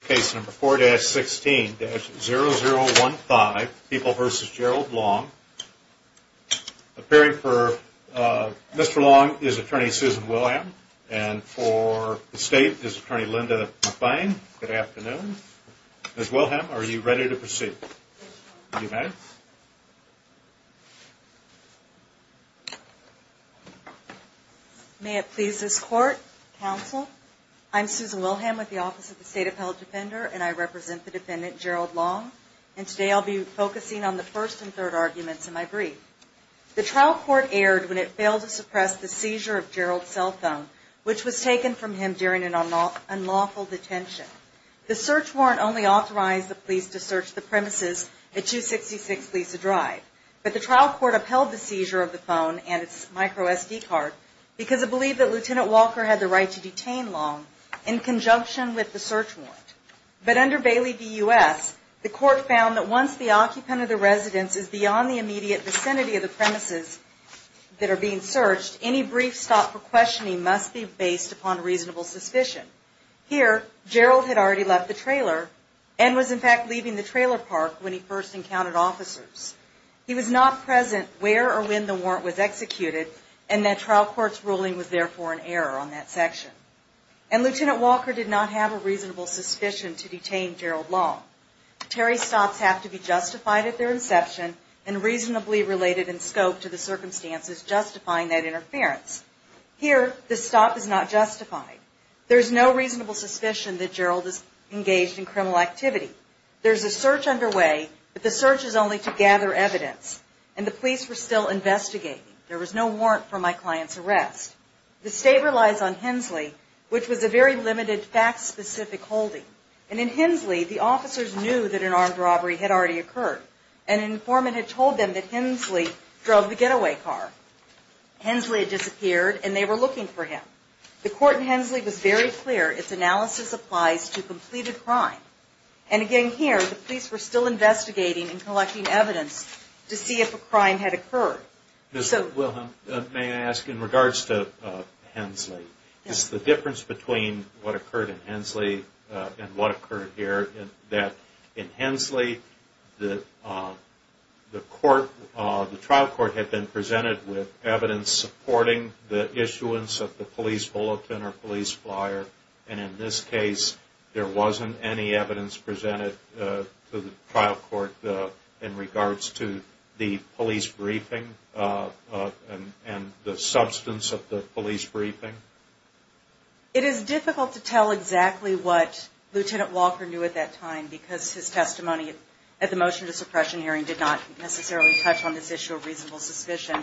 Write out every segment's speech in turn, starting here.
Case number 4-16-0015, People v. Gerald Long. Appearing for Mr. Long is attorney Susan Wilhelm. And for the State is attorney Linda McBain. Good afternoon. Ms. Wilhelm, are you ready to proceed? May it please this Court, Counsel, I'm Susan Wilhelm with the Office of the State Appellate Defender, and I represent the defendant, Gerald Long. And today I'll be focusing on the first and third arguments in my brief. The trial court erred when it failed to suppress the seizure of Gerald's cell phone, which was taken from him during an unlawful detention. The search warrant only authorized the police to search the premises at 266 Lisa Drive. But the trial court upheld the seizure of the phone and its micro SD card because it believed that Lt. Walker had the right to detain Long in conjunction with the search warrant. But under Bailey v. U.S., the court found that once the occupant of the residence is beyond the immediate vicinity of the premises that are being searched, any brief stop for questioning must be based upon reasonable suspicion. Here, Gerald had already left the trailer and was in fact leaving the trailer park when he first encountered officers. He was not present where or when the warrant was executed and that trial court's ruling was therefore an error on that section. And Lt. Walker did not have a reasonable suspicion to detain Gerald Long. Terry stops have to be justified at their inception and reasonably related in scope to the circumstances justifying that interference. Here, the stop is not justified. There is no reasonable suspicion that Gerald is engaged in criminal activity. There is a search underway, but the search is only to gather evidence, and the police were still investigating. There was no warrant for my client's arrest. The state relies on Hensley, which was a very limited, fact-specific holding. And in Hensley, the officers knew that an armed robbery had already occurred and an informant had told them that Hensley drove the getaway car. Hensley had disappeared and they were looking for him. The court in Hensley was very clear its analysis applies to completed crime. And again here, the police were still investigating and collecting evidence to see if a crime had occurred. Ms. Wilhelm, may I ask in regards to Hensley, is the difference between what occurred in Hensley and what occurred here that in Hensley, the trial court had been presented with evidence supporting the issuance of the police bulletin or police flyer, and in this case, there wasn't any evidence presented to the trial court in regards to the police briefing and the substance of the police briefing? It is difficult to tell exactly what Lieutenant Walker knew at that time because his testimony at the motion to suppression hearing did not necessarily touch on this issue of reasonable suspicion.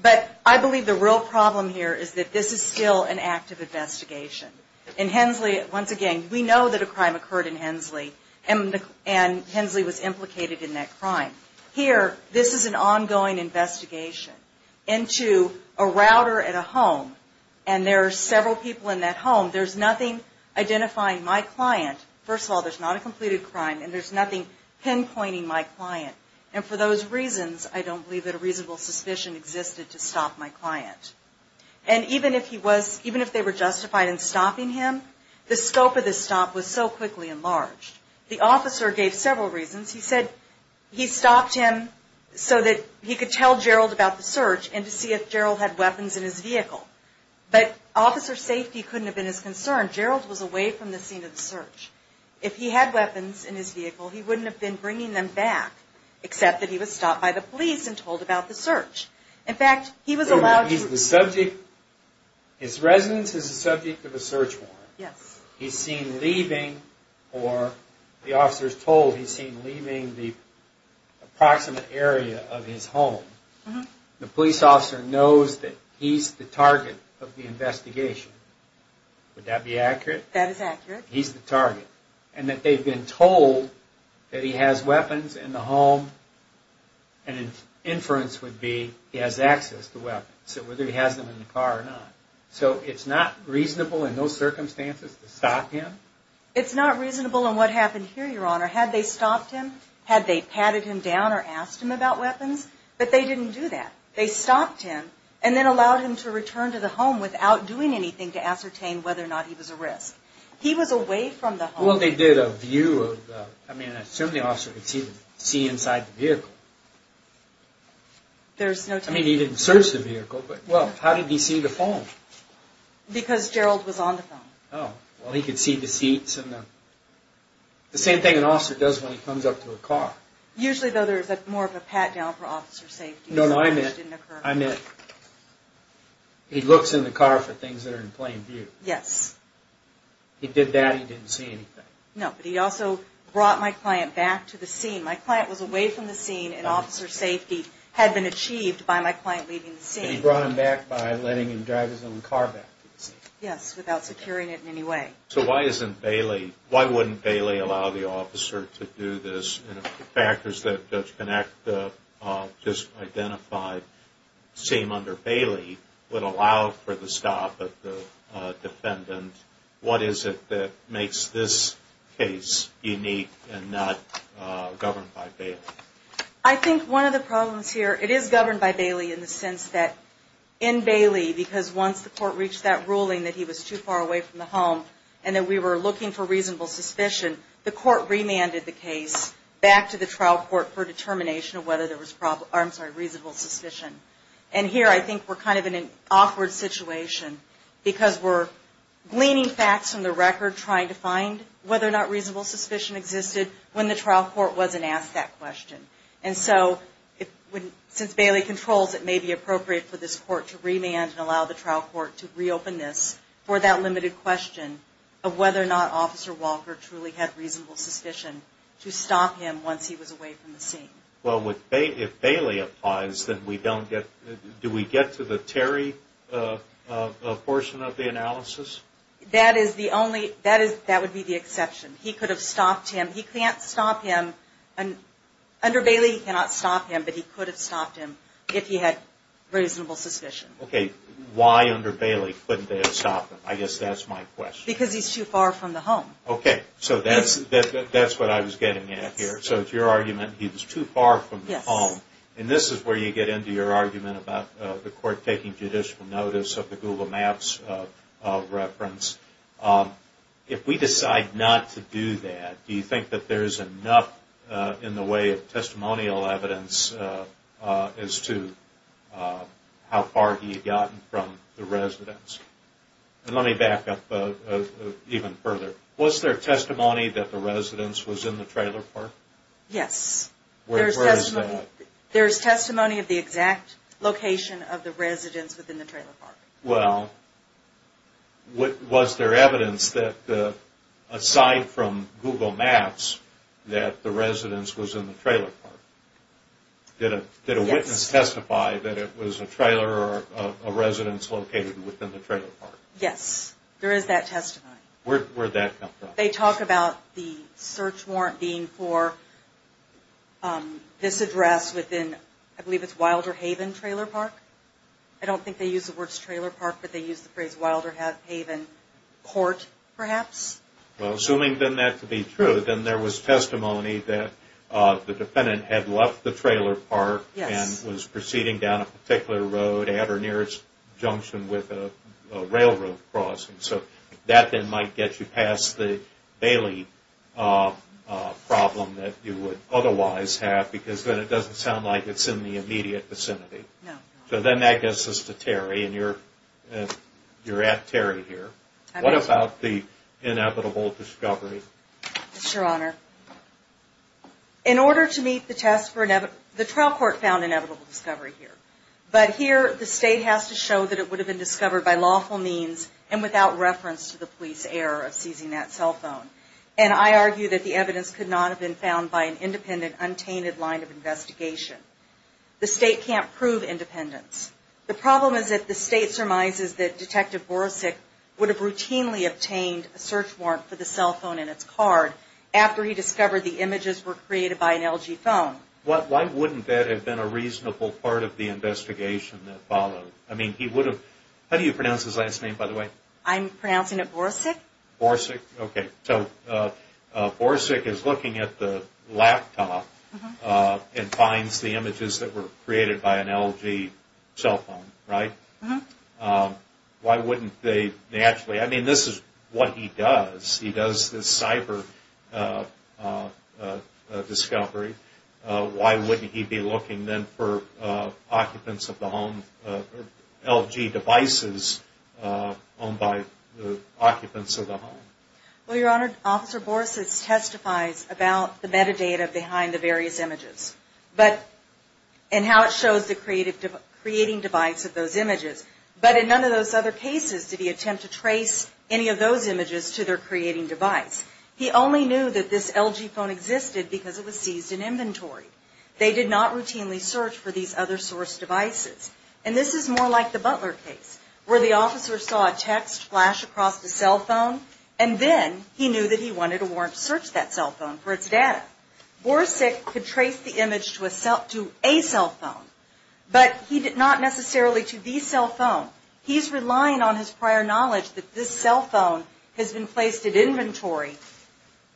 But I believe the real problem here is that this is still an active investigation. In Hensley, once again, we know that a crime occurred in Hensley and Hensley was implicated in that crime. Here, this is an ongoing investigation into a router at a home and there are several people in that home. There's nothing identifying my client. First of all, there's not a completed crime and there's nothing pinpointing my client. And for those reasons, I don't believe that a reasonable suspicion existed to stop my client. And even if they were justified in stopping him, the scope of the stop was so quickly enlarged. The officer gave several reasons. He said he stopped him so that he could tell Gerald about the search and to see if Gerald had weapons in his vehicle. But officer safety couldn't have been his concern. Gerald was away from the scene of the search. If he had weapons in his vehicle, he wouldn't have been bringing them back, except that he was stopped by the police and told about the search. His residence is the subject of a search warrant. He's seen leaving, or the officer's told he's seen leaving the approximate area of his home. The police officer knows that he's the target of the investigation. Would that be accurate? That is accurate. He's the target. And that they've been told that he has weapons in the home and an inference would be he has access to weapons, whether he has them in the car or not. So it's not reasonable in those circumstances to stop him? It's not reasonable in what happened here, Your Honor. Had they stopped him? Had they patted him down or asked him about weapons? But they didn't do that. They stopped him and then allowed him to return to the home without doing anything to ascertain whether or not he was at risk. He was away from the home. Well, they did a view of the... I mean, I assume the officer could see inside the vehicle. I mean, he didn't search the vehicle, but, well, how did he see the phone? Because Gerald was on the phone. Oh, well, he could see the seats and the... The same thing an officer does when he comes up to a car. Usually, though, there's more of a pat-down for officer safety. No, no, I meant... He looks in the car for things that are in plain view. Yes. He did that, he didn't see anything. No, but he also brought my client back to the scene. My client was away from the scene, and officer safety had been achieved by my client leaving the scene. But he brought him back by letting him drive his own car back to the scene. Yes, without securing it in any way. So why isn't Bailey... Why wouldn't Bailey allow the officer to do this? The factors that Judge Connacht just identified seem, under Bailey, would allow for the stop of the defendant. What is it that makes this case unique and not governed by Bailey? I think one of the problems here... It is governed by Bailey in the sense that, in Bailey, because once the court reached that ruling that he was too far away from the home, and that we were looking for reasonable suspicion, the court remanded the case back to the trial court for determination of whether there was probable... I'm sorry, reasonable suspicion. And here, I think we're kind of in an awkward situation because we're gleaning facts from the record, trying to find whether or not reasonable suspicion existed when the trial court wasn't asked that question. And so, since Bailey controls, it may be appropriate for this court to remand and allow the trial court to reopen this for that limited question of whether or not Officer Walker truly had reasonable suspicion to stop him once he was away from the scene. Well, if Bailey applies, then we don't get... Do we get to the Terry portion of the analysis? That is the only... That would be the exception. He could have stopped him. He can't stop him... Under Bailey, he cannot stop him, but he could have stopped him if he had reasonable suspicion. Okay, why under Bailey couldn't they have stopped him? I guess that's my question. Because he's too far from the home. Okay, so that's what I was getting at here. So it's your argument, he was too far from the home. And this is where you get into your argument about the court taking judicial notice of the Google Maps reference. If we decide not to do that, do you think that there's enough in the way of testimonial evidence as to how far he had gotten from the residence? And let me back up even further. Was there testimony that the residence was in the trailer park? Yes. Where is that? There's testimony of the exact location of the residence within the trailer park. Well, was there evidence that aside from Google Maps that the residence was in the trailer park? Did a witness testify that it was a trailer Yes, there is that testimony. Where did that come from? They talk about the search warrant being for this address within, I believe it's Wilder Haven Trailer Park. I don't think they use the words trailer park, but they use the phrase Wilder Haven Court perhaps. Well, assuming then that to be true, then there was testimony that the defendant had left the trailer park and was proceeding down a particular road at or near its junction with a railroad crossing. So that then might get you past the Bailey problem that you would otherwise have because then it doesn't sound like it's in the immediate vicinity. No. So then that gets us to Terry, and you're at Terry here. What about the inevitable discovery? Yes, Your Honor. In order to meet the test for inevitable, the trial court found inevitable discovery here. But here the state has to show that it would have been discovered by lawful means and without reference to the police error of seizing that cell phone. And I argue that the evidence could not have been found by an independent, untainted line of investigation. The state can't prove independence. The problem is that the state surmises that Detective Borosik would have routinely obtained a search warrant for the cell phone and its card after he discovered the images were created by an LG phone. Why wouldn't that have been a reasonable part of the investigation that followed? How do you pronounce his last name, by the way? I'm pronouncing it Borosik. Borosik? Okay. So Borosik is looking at the laptop and finds the images that were created by an LG cell phone, right? Why wouldn't they actually? I mean, this is what he does. He does this cyber discovery. Why wouldn't he be looking then for occupants of the home, LG devices owned by the occupants of the home? Well, Your Honor, Officer Borosik testifies about the metadata behind the various images and how it shows the creating device of those images. But in none of those other cases did he attempt to trace any of those images to their creating device. He only knew that this LG phone existed because it was seized in inventory. They did not routinely search for these other source devices. And this is more like the Butler case where the officer saw a text flash across the cell phone and then he knew that he wanted a warrant to search that cell phone for its data. Borosik could trace the image to a cell phone, but not necessarily to the cell phone. He's relying on his prior knowledge that this cell phone has been placed in inventory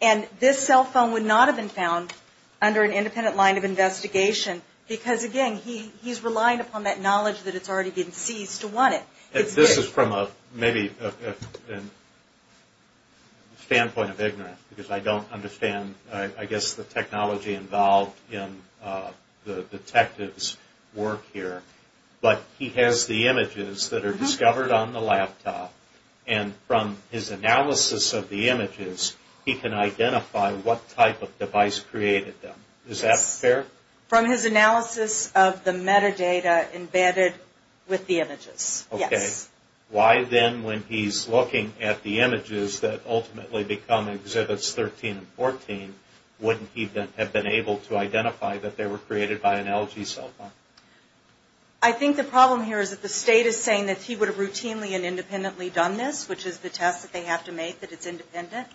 and this cell phone would not have been found under an independent line of investigation because, again, he's relying upon that knowledge that it's already been seized to want it. This is from maybe a standpoint of ignorance because I don't understand, I guess, the technology involved in the detective's work here. But he has the images that are discovered on the laptop and from his analysis of the images he can identify what type of device created them. Is that fair? From his analysis of the metadata embedded with the images, yes. Okay. Why then when he's looking at the images that ultimately become Exhibits 13 and 14 wouldn't he have been able to identify that they were created by an LG cell phone? I think the problem here is that the state is saying that he would have routinely and independently done this, which is the test that they have to make that it's independent.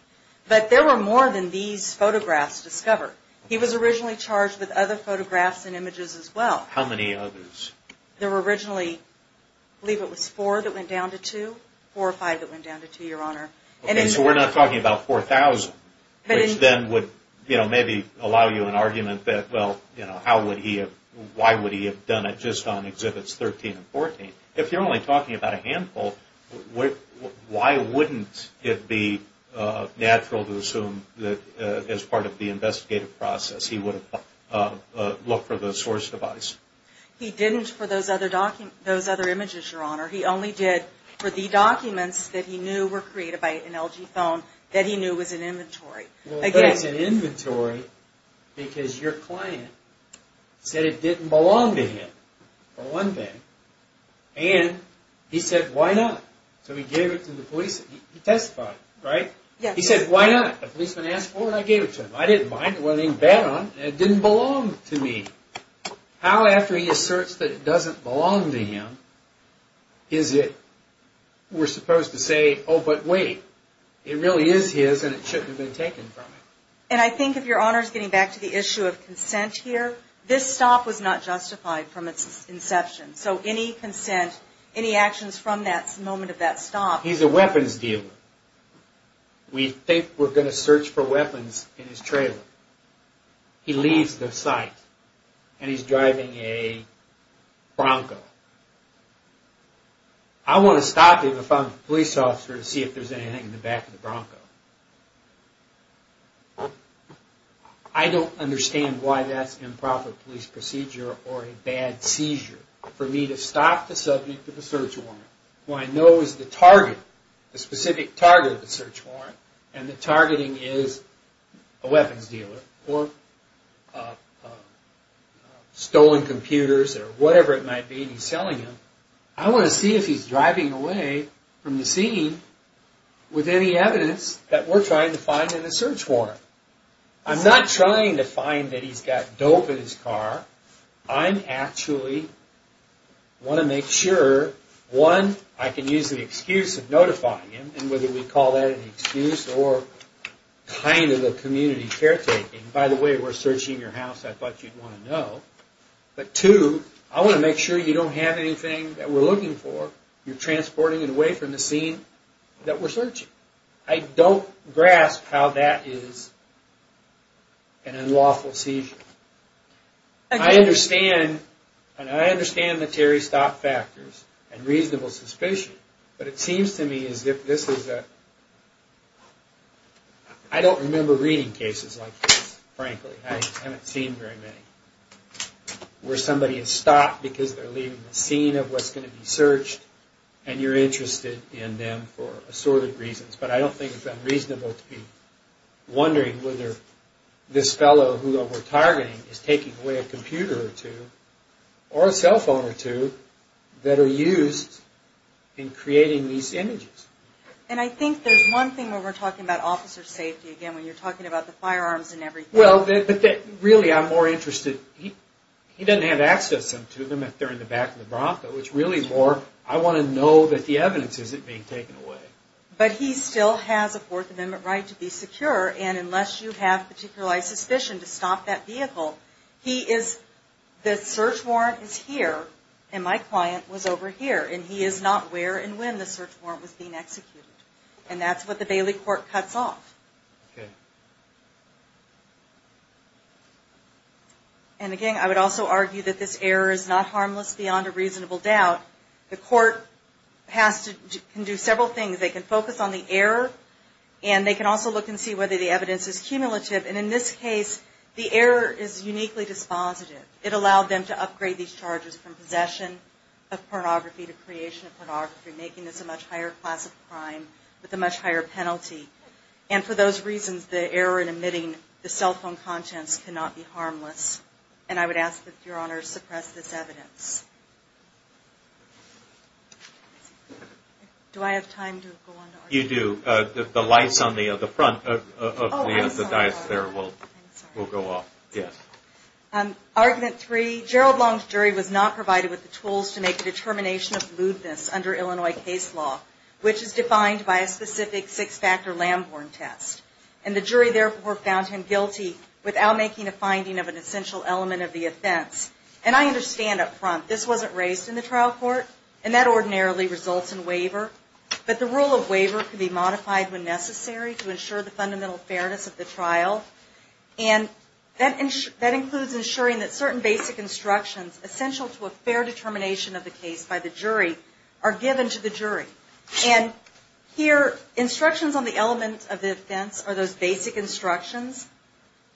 But there were more than these photographs discovered. He was originally charged with other photographs and images as well. How many others? There were originally, I believe it was four that went down to two, four or five that went down to two, Your Honor. Okay. So we're not talking about 4,000, which then would maybe allow you an argument that, well, why would he have done it just on Exhibits 13 and 14? If you're only talking about a handful, why wouldn't it be natural to assume that as part of the investigative process he would have looked for the source device? He didn't for those other images, Your Honor. He only did for the documents that he knew were created by an LG phone that he knew was an inventory. Well, it's an inventory because your client said it didn't belong to him, for one thing. And he said, why not? So he gave it to the police. He testified, right? Yes. He said, why not? The policeman asked for it and I gave it to him. I didn't mind. I didn't want anything to bet on. It didn't belong to me. How, after he asserts that it doesn't belong to him, is it we're supposed to say, oh, but wait. It really is his and it shouldn't have been taken from him. And I think, if Your Honor is getting back to the issue of consent here, this stop was not justified from its inception. So any consent, any actions from that moment of that stop. He's a weapons dealer. We think we're going to search for weapons in his trailer. He leaves the site and he's driving a Bronco. I want to stop him if I'm a police officer to see if there's anything in the back of the Bronco. I don't understand why that's an improper police procedure or a bad seizure. For me to stop the subject of a search warrant, who I know is the target, the specific target of the search warrant, and the targeting is a weapons dealer or stolen computers or whatever it might be and he's selling them, I want to see if he's driving away from the scene with any evidence that we're trying to find in the search warrant. I'm not trying to find that he's got dope in his car. I actually want to make sure, one, I can use the excuse of notifying him, and whether we call that an excuse or kind of a community caretaking. By the way, we're searching your house. I thought you'd want to know. But two, I want to make sure you don't have anything that we're looking for. You're transporting it away from the scene that we're searching. I don't grasp how that is an unlawful seizure. I understand the Terry Stop factors and reasonable suspicion, but it seems to me as if this is a... I don't remember reading cases like this, frankly. I haven't seen very many, where somebody has stopped because they're leaving the scene of what's going to be searched and you're interested in them for assorted reasons. But I don't think it's unreasonable to be wondering whether this fellow, who we're targeting, is taking away a computer or two or a cell phone or two that are used in creating these images. And I think there's one thing when we're talking about officer safety, again, when you're talking about the firearms and everything. Well, really, I'm more interested... He doesn't have access to them if they're in the back of the Bronco. It's really more, I want to know that the evidence isn't being taken away. But he still has a Fourth Amendment right to be secure, and unless you have a particular suspicion to stop that vehicle, the search warrant is here, and my client was over here, and he is not where and when the search warrant was being executed. And that's what the Bailey court cuts off. And again, I would also argue that this error is not harmless beyond a reasonable doubt. The court can do several things. They can focus on the error, and they can also look and see whether the evidence is cumulative. And in this case, the error is uniquely dispositive. It allowed them to upgrade these charges from possession of pornography to creation of pornography, making this a much higher class of crime with a much higher penalty. And for those reasons, the error in omitting the cell phone contents cannot be harmless. And I would ask that Your Honor suppress this evidence. Do I have time to go on to argument two? You do. The lights on the front of the dais there will go off. Yes. Argument three, Gerald Long's jury was not provided with the tools to make a determination of lewdness under Illinois case law, which is defined by a specific six-factor Lamborn test. And the jury therefore found him guilty without making a finding of an essential element of the offense. And I understand up front, this wasn't raised in the trial court, and that ordinarily results in waiver. But the rule of waiver can be modified when necessary to ensure the fundamental fairness of the trial. And that includes ensuring that certain basic instructions essential to a fair determination of the case by the jury are given to the jury. And here, instructions on the element of the offense are those basic instructions.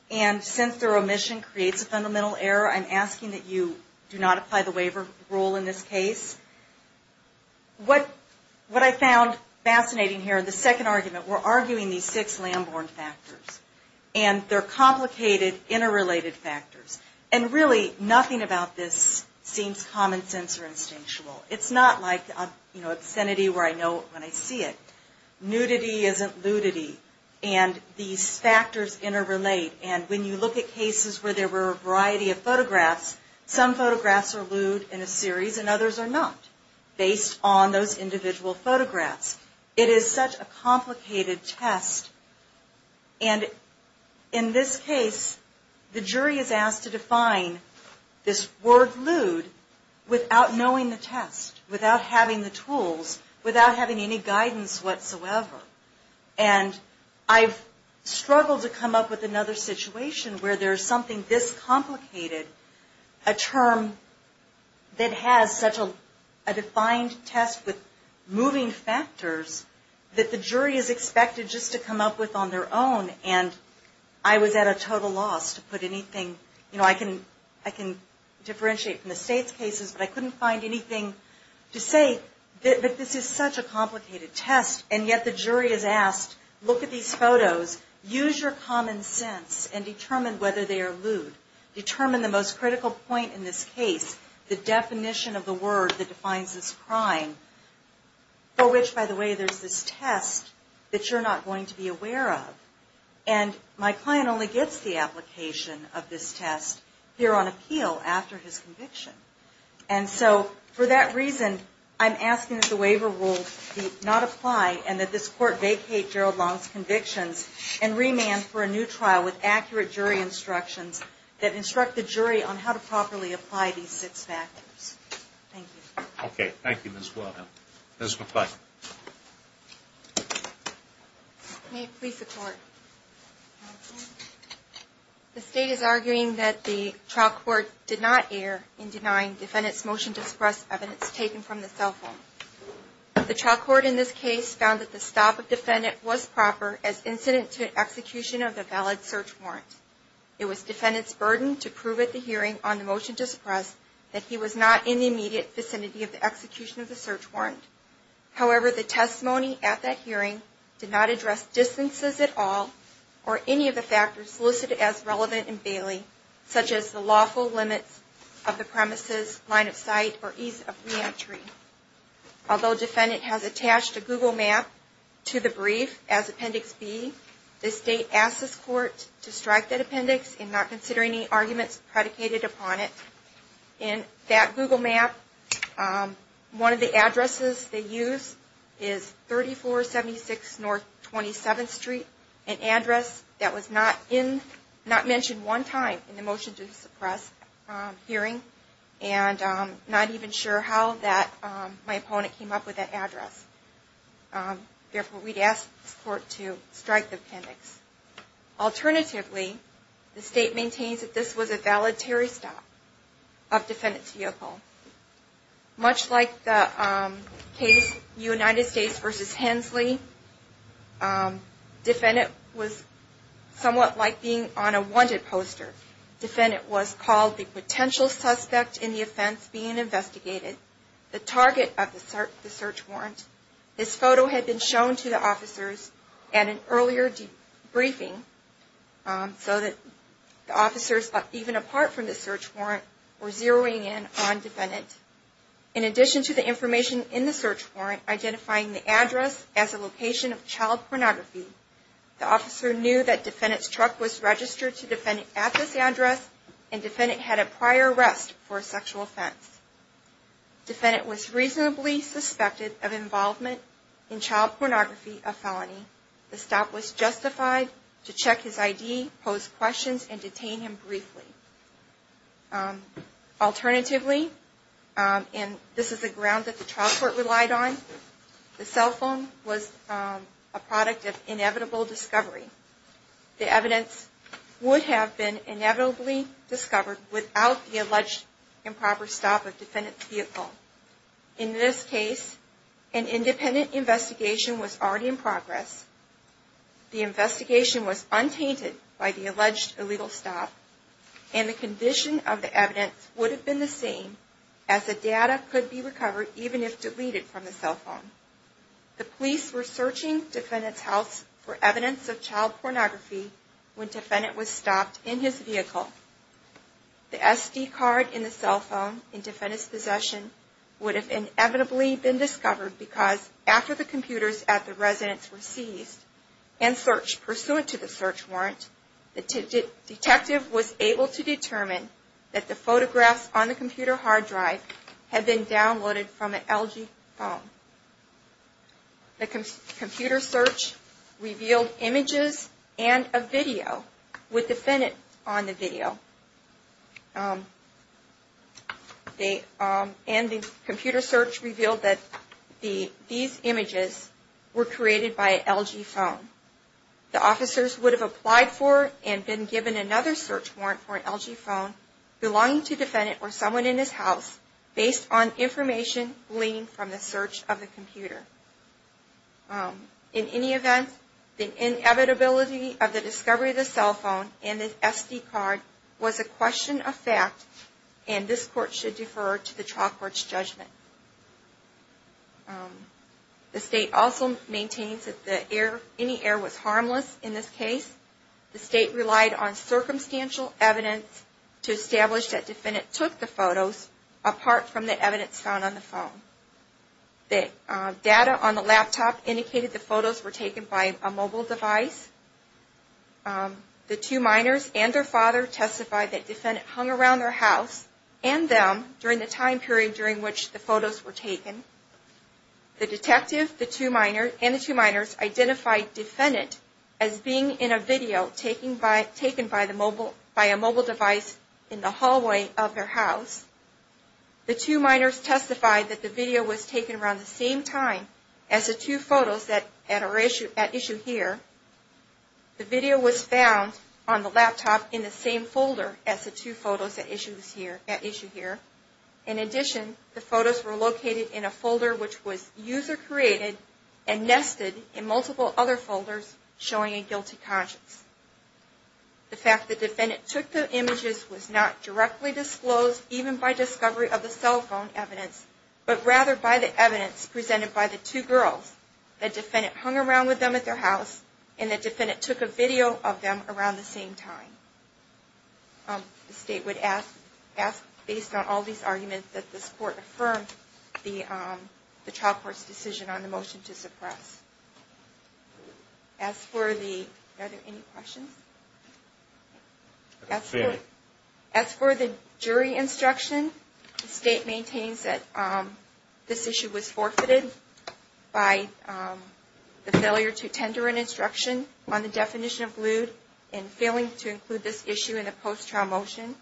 And since their omission creates a fundamental error, I'm asking that you do not apply the waiver rule in this case. What I found fascinating here in the second argument, we're arguing these six Lamborn factors. And they're complicated, interrelated factors. And really, nothing about this seems common sense or instinctual. It's not like, you know, obscenity where I know when I see it. Nudity isn't ludity. And these factors interrelate. And when you look at cases where there were a variety of photographs, some photographs are lewd in a series and others are not, based on those individual photographs. It is such a complicated test. And in this case, the jury is asked to define this word lewd without knowing the test, without having the tools, without having any guidance whatsoever. And I've struggled to come up with another situation where there's something this complicated, a term that has such a defined test with moving factors that the jury is expected just to come up with on their own, and I was at a total loss to put anything. You know, I can differentiate from the state's cases, but I couldn't find anything to say that this is such a complicated test. And yet the jury is asked, look at these photos, use your common sense and determine whether they are lewd. Determine the most critical point in this case, the definition of the word that defines this crime, for which, by the way, there's this test that you're not going to be aware of. And my client only gets the application of this test here on appeal after his conviction. And so for that reason, I'm asking that the waiver rules not apply and that this court vacate Gerald Long's convictions and remand for a new trial with accurate jury instructions that instruct the jury on how to properly apply these six factors. Thank you. Okay. Thank you, Ms. Wilhelm. Ms. McClatchy. May it please the Court. The State is arguing that the trial court did not err in denying defendant's motion to suppress evidence taken from the cell phone. The trial court in this case found that the stop of the defendant was proper as incident to execution of the valid search warrant. It was defendant's burden to prove at the hearing on the motion to suppress that he was not in the immediate vicinity of the execution of the search warrant. However, the testimony at that hearing did not address distances at all or any of the factors listed as relevant in Bailey, such as the lawful limits of the premises, line of sight, or ease of reentry. Although defendant has attached a Google map to the brief as Appendix B, the State asks this court to strike that appendix and not consider any arguments predicated upon it. In that Google map, one of the addresses they use is 3476 North 27th Street, an address that was not mentioned one time in the motion to suppress hearing and not even sure how my opponent came up with that address. Therefore, we'd ask this court to strike the appendix. Alternatively, the State maintains that this was a valid Terry stop of defendant's vehicle. Much like the case United States v. Hensley, defendant was somewhat like being on a wanted poster. Defendant was called the potential suspect in the offense being investigated, the target of the search warrant. This photo had been shown to the officers at an earlier debriefing so that officers, even apart from the search warrant, were zeroing in on defendant. In addition to the information in the search warrant identifying the address as a location of child pornography, the officer knew that defendant's truck was registered to defendant at this address and defendant had a prior arrest for a sexual offense. Defendant was reasonably suspected of involvement in child pornography, a felony. The stop was justified to check his ID, pose questions, and detain him briefly. Alternatively, and this is the ground that the trial court relied on, the cell phone was a product of inevitable discovery. The evidence would have been inevitably discovered without the alleged improper stop of defendant's vehicle. In this case, an independent investigation was already in progress. The investigation was untainted by the alleged illegal stop, and the condition of the evidence would have been the same as the data could be recovered even if deleted from the cell phone. The police were searching defendant's house for evidence of child pornography when defendant was stopped in his vehicle. The SD card in the cell phone in defendant's possession would have inevitably been discovered because after the computers at the residence were seized and searched pursuant to the search warrant, the detective was able to determine that the photographs on the computer hard drive had been downloaded from an LG phone. The computer search revealed images and a video with defendant on the video, and the computer search revealed that these images were created by an LG phone. The officers would have applied for and been given another search warrant for an LG phone belonging to defendant or someone in his house based on information gleaned from the search of the computer. In any event, the inevitability of the discovery of the cell phone and the SD card was a question of fact, and this court should defer to the trial court's judgment. The state also maintains that any error was harmless in this case. The state relied on circumstantial evidence to establish that defendant took the photos apart from the evidence found on the phone. The data on the laptop indicated the photos were taken by a mobile device. The two minors and their father testified that defendant hung around their house and them during the time period during which the photos were taken. The detective and the two minors identified defendant as being in a video taken by a mobile device in the hallway of their house. The two minors testified that the video was taken around the same time as the two photos at issue here. The video was found on the laptop in the same folder as the two photos at issue here. In addition, the photos were located in a folder which was user created and nested in multiple other folders showing a guilty conscience. The fact that defendant took the images was not directly disclosed even by discovery of the cell phone evidence, but rather by the evidence presented by the two girls. The defendant hung around with them at their house and the defendant took a video of them around the same time. The state would ask based on all these arguments that this court affirmed the trial court's decision on the motion to suppress. As for the, are there any questions? As for the jury instruction, the state maintains that this issue was forfeited by the failure to tender an instruction on the definition of lewd and failing to include this issue in the post-trial motion.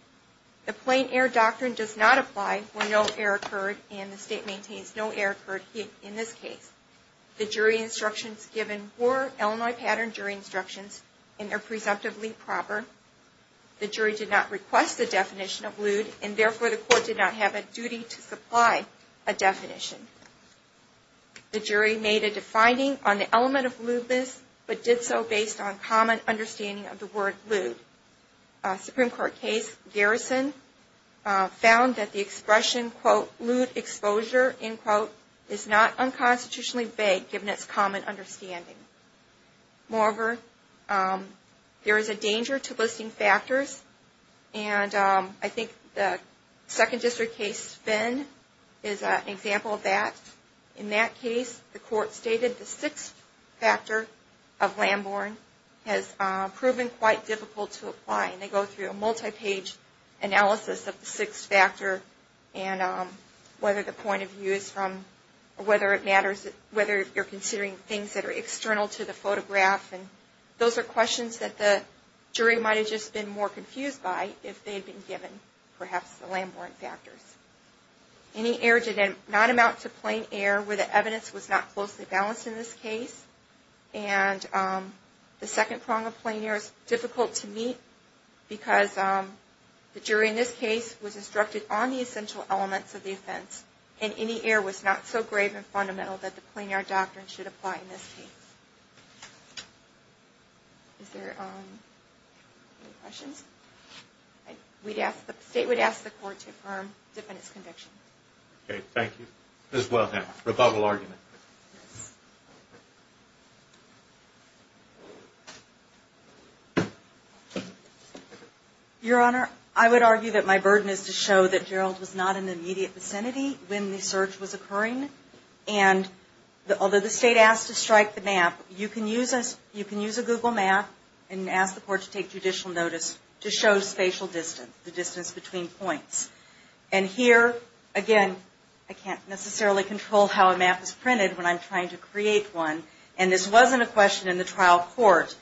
The plain error doctrine does not apply when no error occurred and the state maintains no error occurred in this case. The jury instructions given were Illinois pattern jury instructions and are presumptively proper. The jury did not request the definition of lewd and therefore the court did not have a duty to supply a definition. The jury made a defining on the element of lewdness but did so based on common understanding of the word lewd. A Supreme Court case, Garrison, found that the expression, quote, lewd exposure, end quote, is not unconstitutionally vague given its common understanding. Moreover, there is a danger to listing factors and I think the Second District case, Finn, is an example of that. In that case, the court stated the sixth factor of Lamborn has proven quite difficult to apply. They go through a multi-page analysis of the sixth factor and whether the point of view is from, or whether it matters, whether you're considering things that are external to the photograph. Those are questions that the jury might have just been more confused by if they had been given, perhaps, the Lamborn factors. Any error did not amount to plain error where the evidence was not closely balanced in this case. And the second prong of plain error is difficult to meet because the jury in this case was instructed on the essential elements of the offense and any error was not so grave and fundamental that the plain error doctrine should apply in this case. Is there any questions? The state would ask the court to affirm the defendant's conviction. Okay. Thank you. Ms. Wellham, rebuttal argument. Your Honor, I would argue that my burden is to show that Gerald was not in the immediate vicinity when the search was occurring. And although the state asked to strike the map, you can use a Google map and ask the court to take judicial notice to show spatial distance, the distance between points. And here, again, I can't necessarily control how a map is printed when I'm trying to create one. And this wasn't a question in the trial court.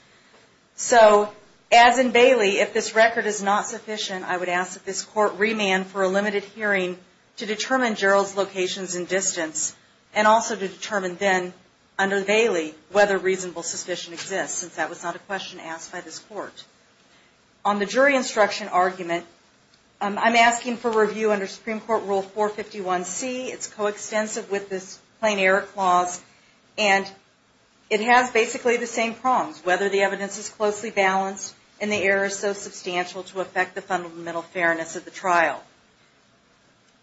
So as in Bailey, if this record is not sufficient, I would ask that this court remand for a limited hearing to determine Gerald's locations and distance, and also to determine then, under Bailey, whether reasonable suspicion exists, since that was not a question asked by this court. On the jury instruction argument, I'm asking for review under Supreme Court Rule 451C. It's coextensive with this plain error clause, and it has basically the same problems, whether the evidence is closely balanced and the error is so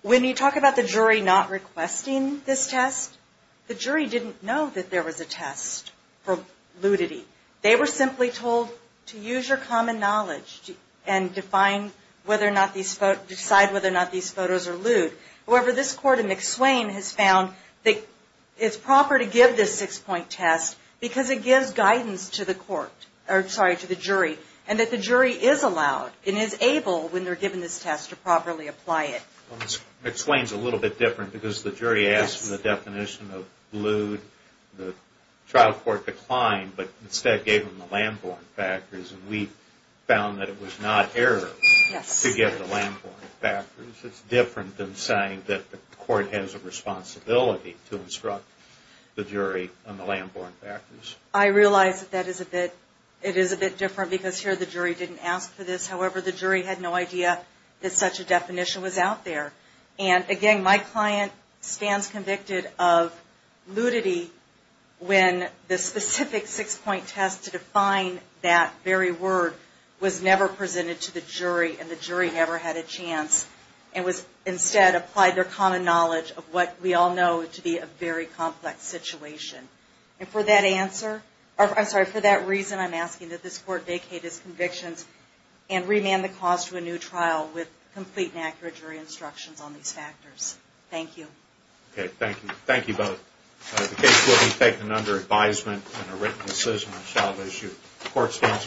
When you talk about the jury not requesting this test, the jury didn't know that there was a test for ludity. They were simply told to use your common knowledge and decide whether or not these photos are lewd. However, this court in McSwain has found that it's proper to give this six-point test because it gives guidance to the jury, and that the jury is allowed and is able to properly apply it. McSwain's a little bit different, because the jury asked for the definition of lewd. The trial court declined, but instead gave them the Lamborn factors, and we found that it was not error to give the Lamborn factors. It's different than saying that the court has a responsibility to instruct the jury on the Lamborn factors. I realize that it is a bit different, because here the jury didn't ask for this. However, the jury had no idea that such a definition was out there. And again, my client stands convicted of ludity when the specific six-point test to define that very word was never presented to the jury, and the jury never had a chance, and was instead applied their common knowledge of what we all know to be a very complex situation. And for that answer, I'm sorry, for that reason, I'm asking that this court vacate its convictions and remand the cause to a new trial with complete and accurate jury instructions on these factors. Thank you. Okay, thank you. Thank you both. The case will be taken under advisement and a written decision on a child issue. Court is adjourned.